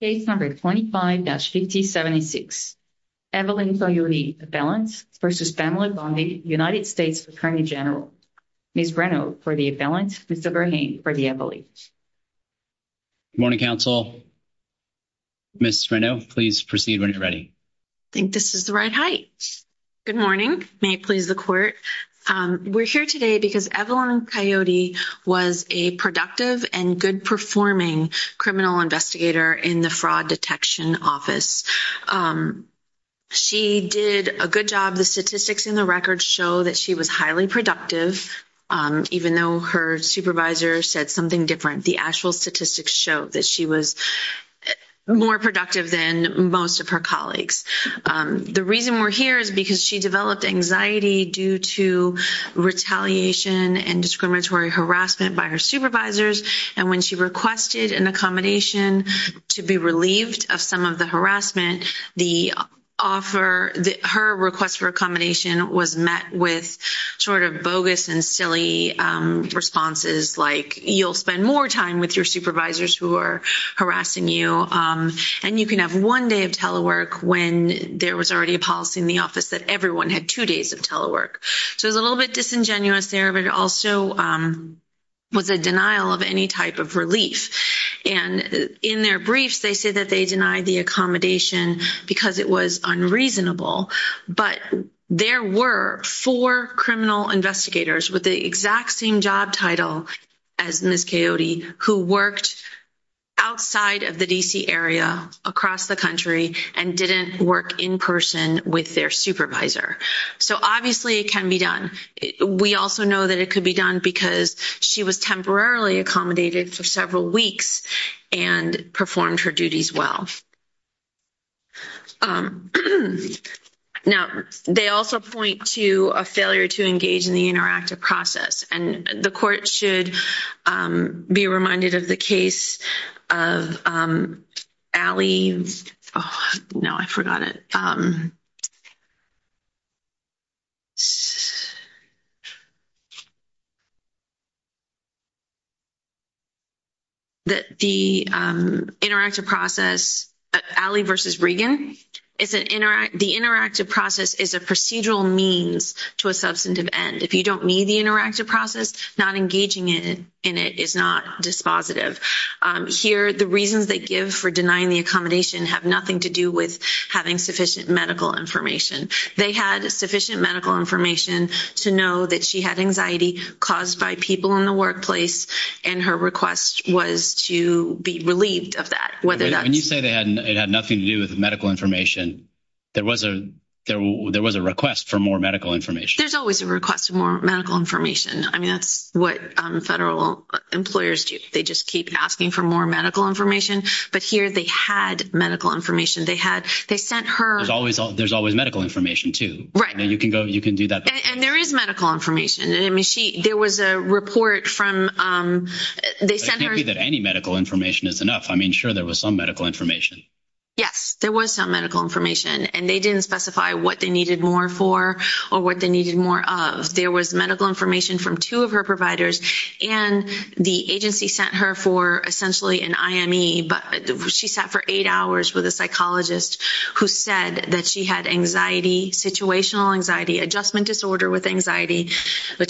Case No. 25-5076, Evelyn Kayode appellant v. Pamela Bondi, United States Attorney General. Ms. Renaud for the appellant, Mr. Verhane for the appellate. Good morning, counsel. Ms. Renaud, please proceed when you're ready. I think this is the right height. Good morning. May it please the court. We're here today because Evelyn Kayode was a productive and good-performing criminal investigator in the Fraud Detection Office. She did a good job. The statistics in the records show that she was highly productive, even though her supervisor said something different. The actual statistics show that she was more productive than most of her colleagues. The reason we're here is because she developed anxiety due to retaliation and discriminatory harassment by her supervisors. And when she requested an accommodation to be relieved of some of the harassment, her request for accommodation was met with sort of bogus and silly responses like, you'll spend more time with your supervisors who are harassing you, and you can have one day of telework when there was already a policy in the office that everyone had two days of telework. So it was a little bit disingenuous there, but it also was a denial of any type of relief. And in their briefs, they say that they denied the accommodation because it was unreasonable. But there were four criminal investigators with the exact same job title as Ms. Kayode who worked outside of the D.C. area, across the country, and didn't work in person with their supervisor. So obviously it can be done. We also know that it could be done because she was temporarily accommodated for several weeks and performed her duties well. Now, they also point to a failure to engage in the interactive process. And the court should be reminded of the case of Allie—oh, no, I forgot it. The interactive process, Allie v. Regan, the interactive process is a procedural means to a substantive end. If you don't meet the interactive process, not engaging in it is not dispositive. Here, the reasons they give for denying the accommodation have nothing to do with having sufficient medical information. They had sufficient medical information to know that she had anxiety caused by people in the workplace, and her request was to be relieved of that. When you say it had nothing to do with medical information, there was a request for more medical information. There's always a request for more medical information. I mean, that's what federal employers do. They just keep asking for more medical information, but here they had medical information. They sent her— There's always medical information, too. Right. You can do that. And there is medical information. I mean, there was a report from— It can't be that any medical information is enough. I mean, sure, there was some medical information. Yes, there was some medical information. And they didn't specify what they needed more for or what they needed more of. There was medical information from two of her providers, and the agency sent her for essentially an IME. She sat for eight hours with a psychologist who said that she had anxiety, situational anxiety, adjustment disorder with anxiety.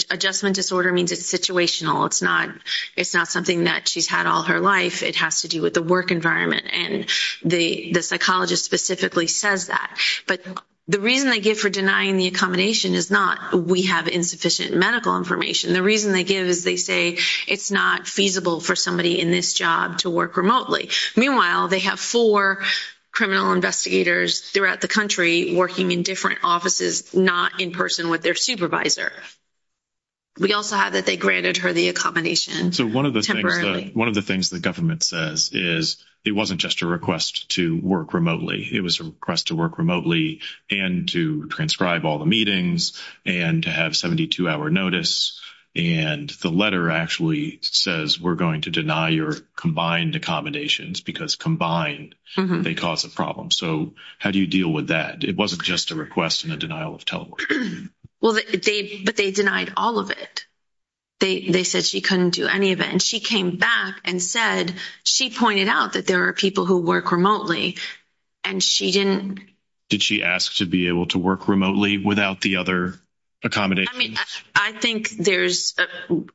Adjustment disorder means it's situational. It's not something that she's had all her life. It has to do with the work environment. And the psychologist specifically says that. But the reason they give for denying the accommodation is not we have insufficient medical information. The reason they give is they say it's not feasible for somebody in this job to work remotely. Meanwhile, they have four criminal investigators throughout the country working in different offices, not in person with their supervisor. We also have that they granted her the accommodation temporarily. One of the things the government says is it wasn't just a request to work remotely. It was a request to work remotely and to transcribe all the meetings and to have 72-hour notice. And the letter actually says we're going to deny your combined accommodations because combined they cause a problem. So how do you deal with that? It wasn't just a request and a denial of telework. But they denied all of it. They said she couldn't do any of it. And she came back and said she pointed out that there are people who work remotely. And she didn't. Did she ask to be able to work remotely without the other accommodations? I mean, I think there's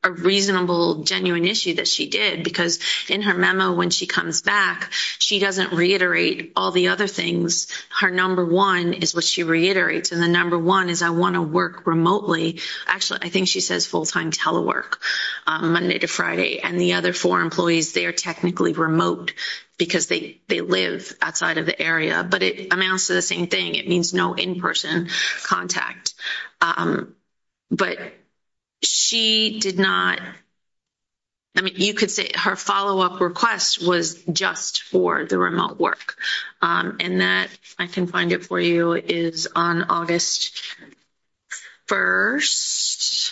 a reasonable, genuine issue that she did. Because in her memo when she comes back, she doesn't reiterate all the other things. Her number one is what she reiterates. And the number one is I want to work remotely. Actually, I think she says full-time telework, Monday to Friday. And the other four employees, they are technically remote because they live outside of the area. But it amounts to the same thing. It means no in-person contact. But she did not, I mean, you could say her follow-up request was just for the remote work. And that, if I can find it for you, is on August 1st.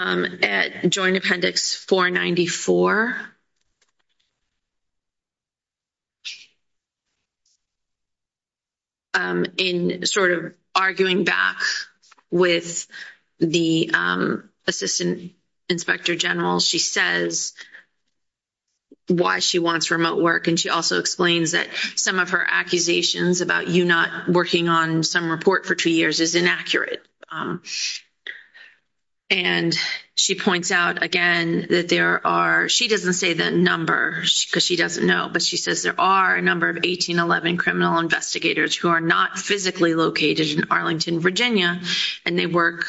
At Joint Appendix 494. In sort of arguing back with the Assistant Inspector General, she says why she wants remote work. And she also explains that some of her accusations about you not working on some report for two years is inaccurate. And she points out, again, that there are, she doesn't say the number because she doesn't know. But she says there are a number of 1811 criminal investigators who are not physically located in Arlington, Virginia. And they work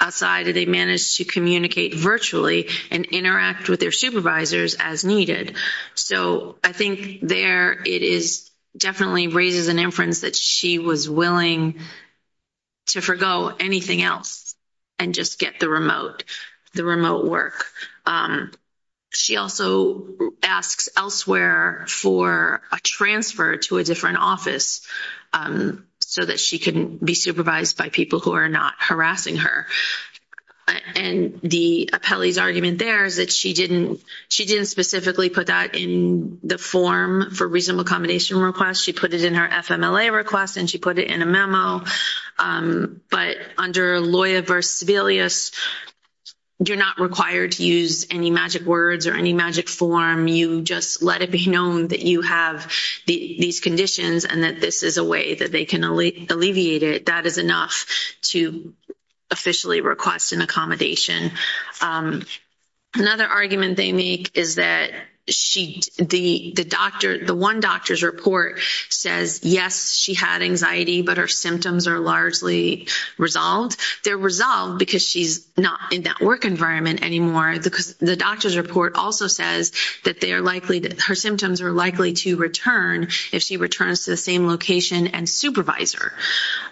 outside and they manage to communicate virtually and interact with their supervisors as needed. So I think there it is, definitely raises an inference that she was willing to forego anything else and just get the remote work. She also asks elsewhere for a transfer to a different office so that she can be supervised by people who are not harassing her. And the appellee's argument there is that she didn't specifically put that in the form for reasonable accommodation request. She put it in her FMLA request and she put it in a memo. But under LOIA v. Sebelius, you're not required to use any magic words or any magic form. You just let it be known that you have these conditions and that this is a way that they can alleviate it. That is enough to officially request an accommodation. Another argument they make is that the one doctor's report says, yes, she had anxiety, but her symptoms are largely resolved. They're resolved because she's not in that work environment anymore. The doctor's report also says that her symptoms are likely to return if she returns to the same location and supervisor.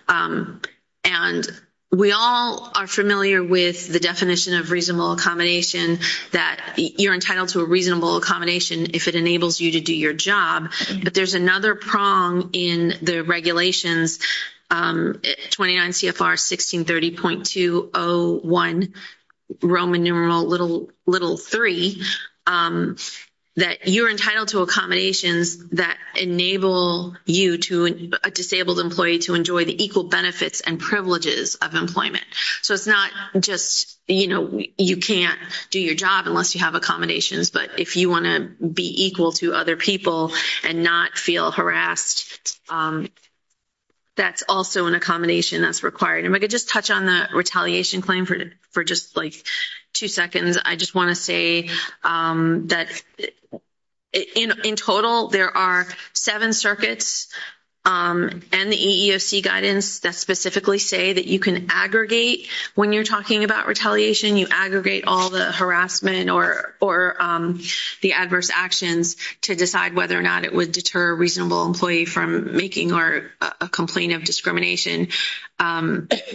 And we all are familiar with the definition of reasonable accommodation, that you're entitled to a reasonable accommodation if it enables you to do your job. But there's another prong in the regulations, 29 CFR 1630.201, Roman numeral little three, that you're entitled to accommodations that enable you, a disabled employee, to enjoy the equal benefits and privileges of employment. So it's not just you can't do your job unless you have accommodations. But if you want to be equal to other people and not feel harassed, that's also an accommodation that's required. If I could just touch on the retaliation claim for just like two seconds. I just want to say that in total, there are seven circuits and the EEOC guidance that specifically say that you can aggregate. When you're talking about retaliation, you aggregate all the harassment or the adverse actions to decide whether or not it would deter a reasonable employee from making a complaint of discrimination.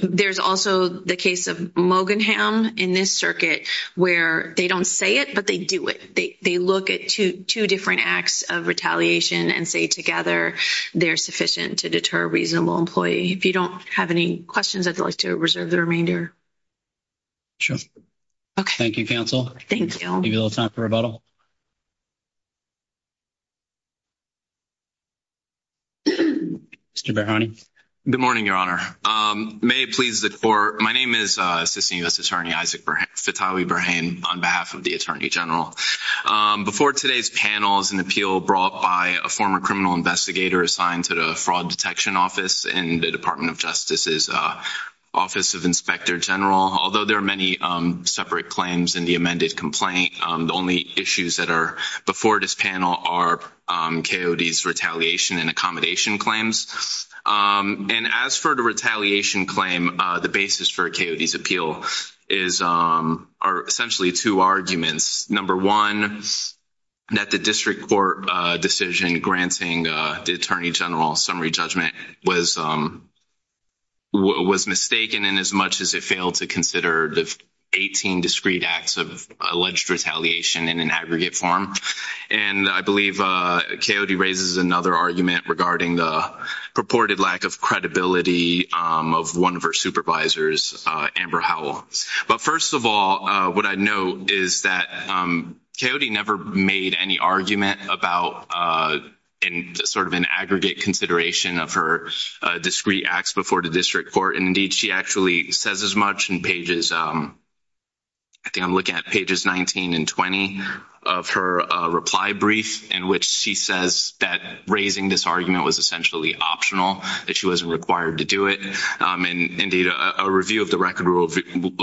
There's also the case of Mogenham in this circuit where they don't say it, but they do it. They look at two different acts of retaliation and say together they're sufficient to deter a reasonable employee. If you don't have any questions, I'd like to reserve the remainder. Okay. Thank you, Counsel. Thank you. Give you a little time for rebuttal. Mr. Berhane. Good morning, Your Honor. May it please the Court. My name is Assistant U.S. Attorney Isaac Fitawi Berhane on behalf of the Attorney General. Before today's panel is an appeal brought by a former criminal investigator assigned to the Fraud Detection Office in the Department of Justice's Office of Inspector General. Although there are many separate claims in the amended complaint, the only issues that are before this panel are KOD's retaliation and accommodation claims. And as for the retaliation claim, the basis for KOD's appeal are essentially two arguments. Number one, that the district court decision granting the Attorney General a summary judgment was mistaken in as much as it failed to consider the 18 discreet acts of alleged retaliation in an aggregate form. And I believe KOD raises another argument regarding the purported lack of credibility of one of her supervisors, Amber Howell. But first of all, what I know is that KOD never made any argument about sort of an aggregate consideration of her discreet acts before the district court. And indeed, she actually says as much in pages 19 and 20 of her reply brief in which she says that raising this argument was essentially optional, that she wasn't required to do it. And indeed, a review of the record rule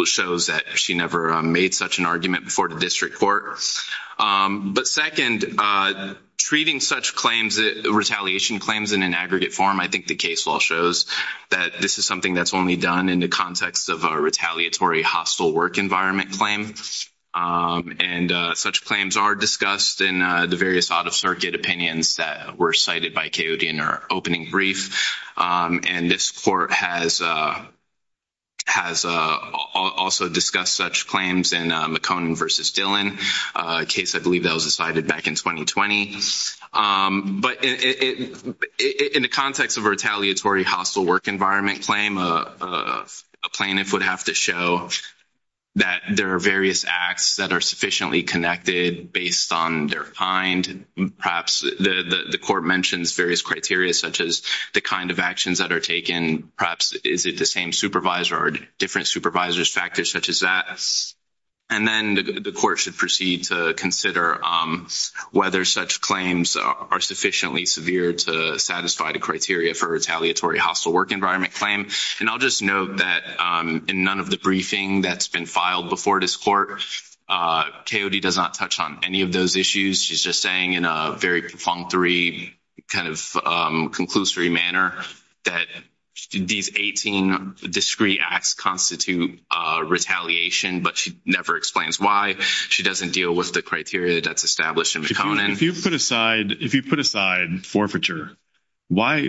shows that she never made such an argument before the district court. But second, treating such claims, retaliation claims in an aggregate form, I think the case law shows that this is something that's only done in the context of a retaliatory hostile work environment claim. And such claims are discussed in the various out-of-circuit opinions that were cited by KOD in her opening brief. And this court has also discussed such claims in McCone versus Dillon, a case I believe that was decided back in 2020. But in the context of a retaliatory hostile work environment claim, a plaintiff would have to show that there are various acts that are sufficiently connected based on their kind. And perhaps the court mentions various criteria such as the kind of actions that are taken. Perhaps is it the same supervisor or different supervisor's factors such as that? And then the court should proceed to consider whether such claims are sufficiently severe to satisfy the criteria for retaliatory hostile work environment claim. And I'll just note that in none of the briefing that's been filed before this court, KOD does not touch on any of those issues. She's just saying in a very functory kind of conclusory manner that these 18 discrete acts constitute retaliation. But she never explains why. She doesn't deal with the criteria that's established in McConin. If you put aside forfeiture, why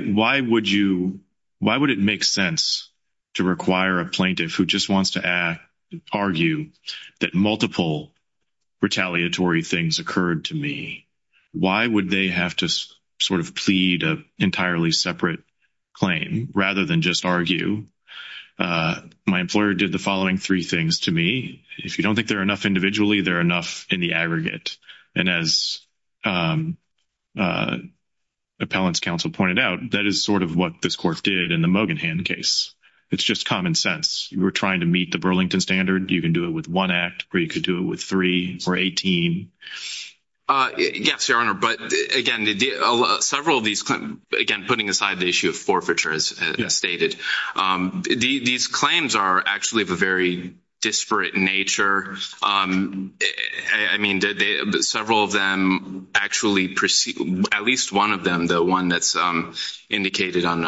would it make sense to require a plaintiff who just wants to argue that multiple retaliatory things occurred to me? Why would they have to sort of plead an entirely separate claim rather than just argue? My employer did the following three things to me. If you don't think there are enough individually, there are enough in the aggregate. And as appellant's counsel pointed out, that is sort of what this court did in the Mogenhan case. It's just common sense. You were trying to meet the Burlington standard. You can do it with one act or you could do it with three or 18. Yes, Your Honor. But again, several of these, again, putting aside the issue of forfeiture as stated, these claims are actually of a very disparate nature. I mean, several of them actually proceed, at least one of them, the one that's indicated and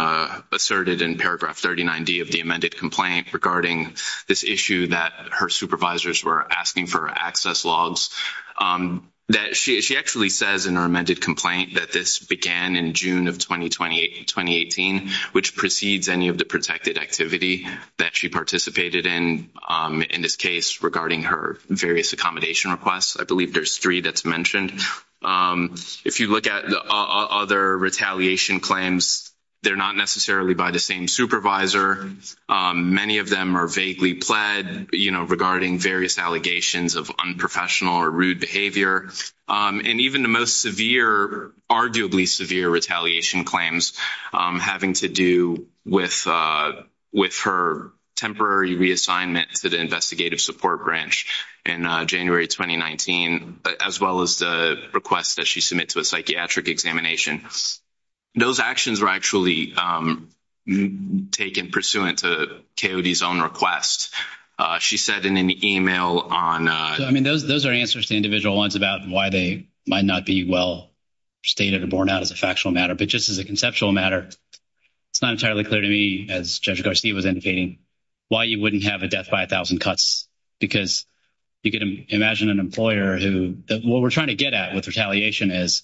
asserted in paragraph 39D of the amended complaint regarding this issue that her supervisors were asking for access logs, that she actually says in her amended complaint that this began in June of 2018, which precedes any of the protected activity that she participated in, in this case, regarding her various accommodation requests. I believe there's three that's mentioned. If you look at other retaliation claims, they're not necessarily by the same supervisor. Many of them are vaguely pled, you know, regarding various allegations of unprofessional or rude behavior. And even the most severe, arguably severe retaliation claims having to do with her temporary reassignment to the investigative support branch in January 2019, as well as the request that she submit to a psychiatric examination. Those actions were actually taken pursuant to Coyote's own request. She said in an email on — I mean, those are answers to individual ones about why they might not be well stated or borne out as a factual matter. But just as a conceptual matter, it's not entirely clear to me, as Judge Garcia was indicating, why you wouldn't have a death by a thousand cuts. Because you can imagine an employer who — what we're trying to get at with retaliation is,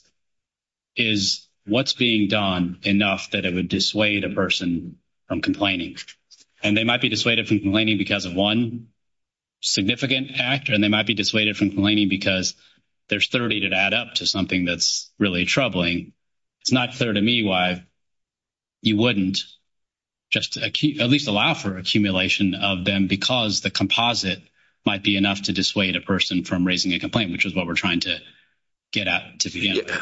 is what's being done enough that it would dissuade a person from complaining? And they might be dissuaded from complaining because of one significant actor, and they might be dissuaded from complaining because there's 30 that add up to something that's really troubling. It's not clear to me why you wouldn't just at least allow for accumulation of them because the composite might be enough to dissuade a person from raising a complaint, which is what we're trying to get at to begin with.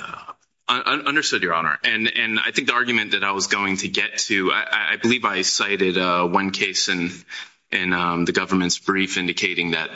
Understood, Your Honor. And I think the argument that I was going to get to — I believe I cited one case in the government's brief indicating that,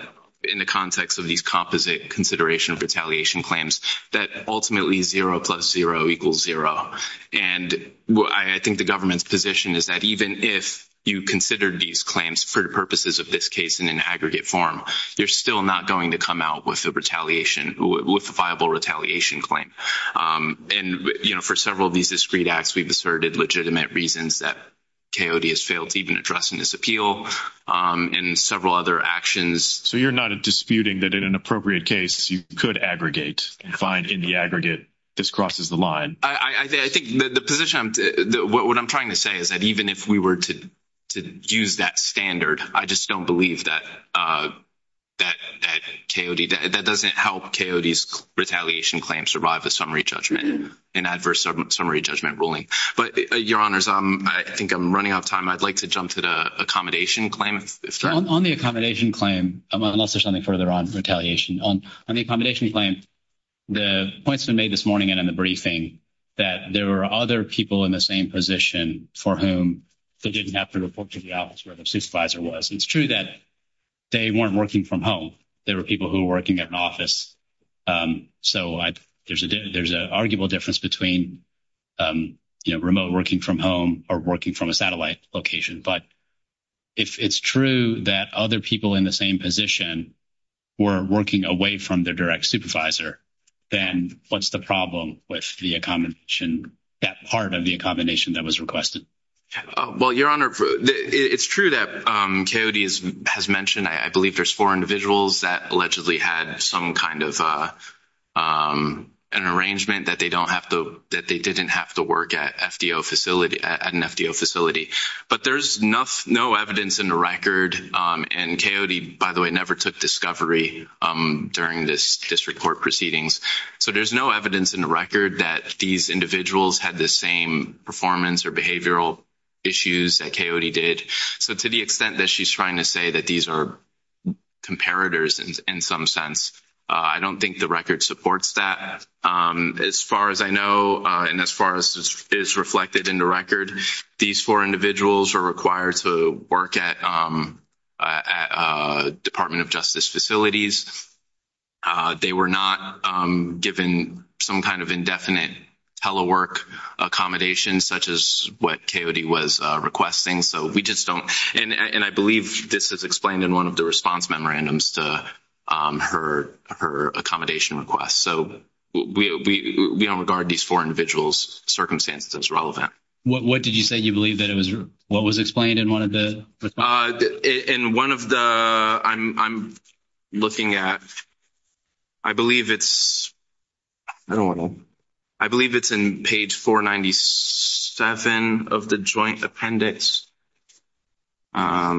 in the context of these composite consideration of retaliation claims, that ultimately zero plus zero equals zero. And I think the government's position is that even if you considered these claims for the purposes of this case in an aggregate form, you're still not going to come out with a retaliation — with a viable retaliation claim. And, you know, for several of these discrete acts, we've asserted legitimate reasons that Coyote has failed to even address in this appeal and several other actions. So you're not disputing that in an appropriate case, you could aggregate and find in the aggregate this crosses the line? I think the position — what I'm trying to say is that even if we were to use that standard, I just don't believe that Coyote — that doesn't help Coyote's retaliation claim survive a summary judgment, an adverse summary judgment ruling. But, Your Honors, I think I'm running out of time. I'd like to jump to the accommodation claim. On the accommodation claim, unless there's something further on retaliation. On the accommodation claim, the points that were made this morning and in the briefing, that there were other people in the same position for whom they didn't have to report to the office where the supervisor was. It's true that they weren't working from home. They were people who were working at an office. So there's an arguable difference between, you know, remote working from home or working from a satellite location. But if it's true that other people in the same position were working away from their direct supervisor, then what's the problem with the accommodation — that part of the accommodation that was requested? Well, Your Honor, it's true that Coyote has mentioned — I believe there's four individuals that allegedly had some kind of an arrangement that they don't have to — that they didn't have to work at an FDO facility. But there's no evidence in the record, and Coyote, by the way, never took discovery during this district court proceedings. So there's no evidence in the record that these individuals had the same performance or behavioral issues that Coyote did. So to the extent that she's trying to say that these are comparators in some sense, I don't think the record supports that. As far as I know, and as far as is reflected in the record, these four individuals were required to work at Department of Justice facilities. They were not given some kind of indefinite telework accommodation, such as what Coyote was requesting. So we just don't — and I believe this is explained in one of the response memorandums to her accommodation request. So we don't regard these four individuals' circumstances as relevant. What did you say you believe that it was — what was explained in one of the — In one of the — I'm looking at — I believe it's — I don't know. I believe it's in page 497 of the joint appendix. Yeah,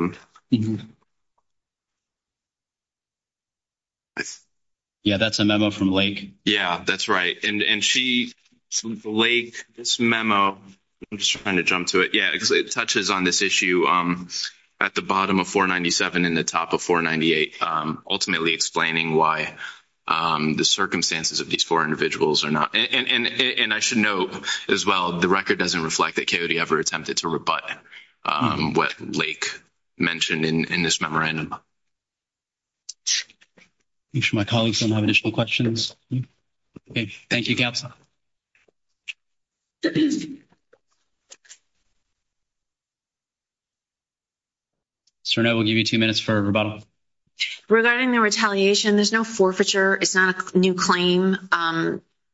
that's a memo from Lake. Yeah, that's right. And she — Lake, this memo — I'm just trying to jump to it. Yeah, it touches on this issue at the bottom of 497 and the top of 498, ultimately explaining why the circumstances of these four individuals are not — And I should note, as well, the record doesn't reflect that Coyote ever attempted to rebut what Lake mentioned in this memorandum. Make sure my colleagues don't have additional questions. Okay, thank you, Kapsa. So now we'll give you two minutes for rebuttal. Regarding the retaliation, there's no forfeiture. It's not a new claim.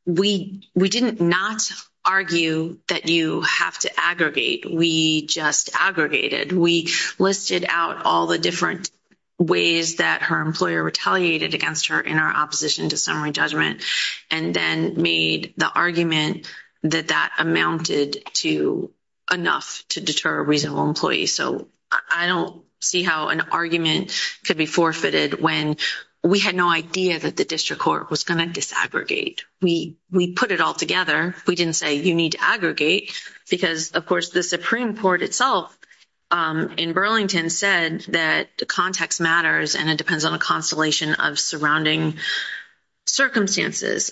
We didn't not argue that you have to aggregate. We just aggregated. We listed out all the different ways that her employer retaliated against her in our opposition to summary judgment and then made the argument that that amounted to enough to deter a reasonable employee. So I don't see how an argument could be forfeited when we had no idea that the district court was going to disaggregate. We put it all together. We didn't say you need to aggregate because, of course, the Supreme Court itself in Burlington said that context matters and it depends on a constellation of surrounding circumstances.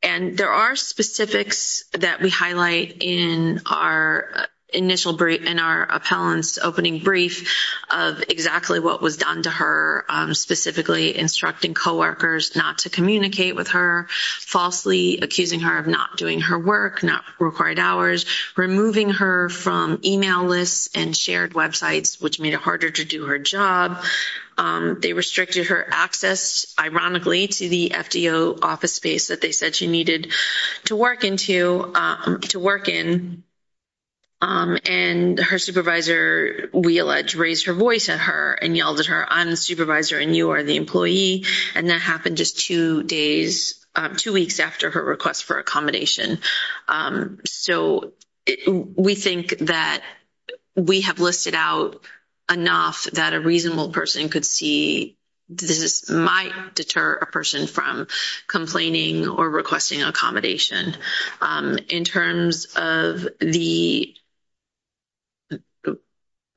And there are specifics that we highlight in our appellant's opening brief of exactly what was done to her, specifically instructing coworkers not to communicate with her, falsely accusing her of not doing her work, not required hours, removing her from email lists and shared websites, which made it harder to do her job. They restricted her access, ironically, to the FDO office space that they said she needed to work in. And her supervisor, we allege, raised her voice at her and yelled at her, I'm the supervisor and you are the employee. And that happened just two weeks after her request for accommodation. So we think that we have listed out enough that a reasonable person could see this might deter a person from complaining or requesting accommodation. In terms of the,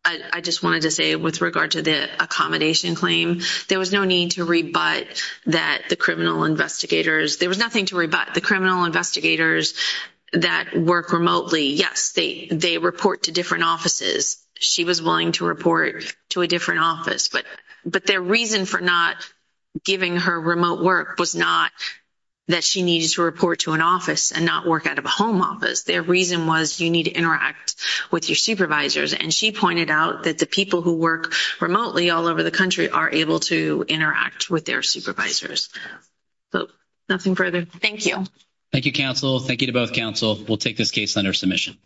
I just wanted to say with regard to the accommodation claim, there was no need to rebut that the criminal investigators, there was nothing to rebut the criminal investigators that work remotely. Yes, they report to different offices. She was willing to report to a different office, but their reason for not giving her remote work was not that she needed to report to an office and not work out of a home office. Their reason was you need to interact with your supervisors. And she pointed out that the people who work remotely all over the country are able to interact with their supervisors. So nothing further. Thank you. Thank you, counsel. Thank you to both counsel. We'll take this case under submission.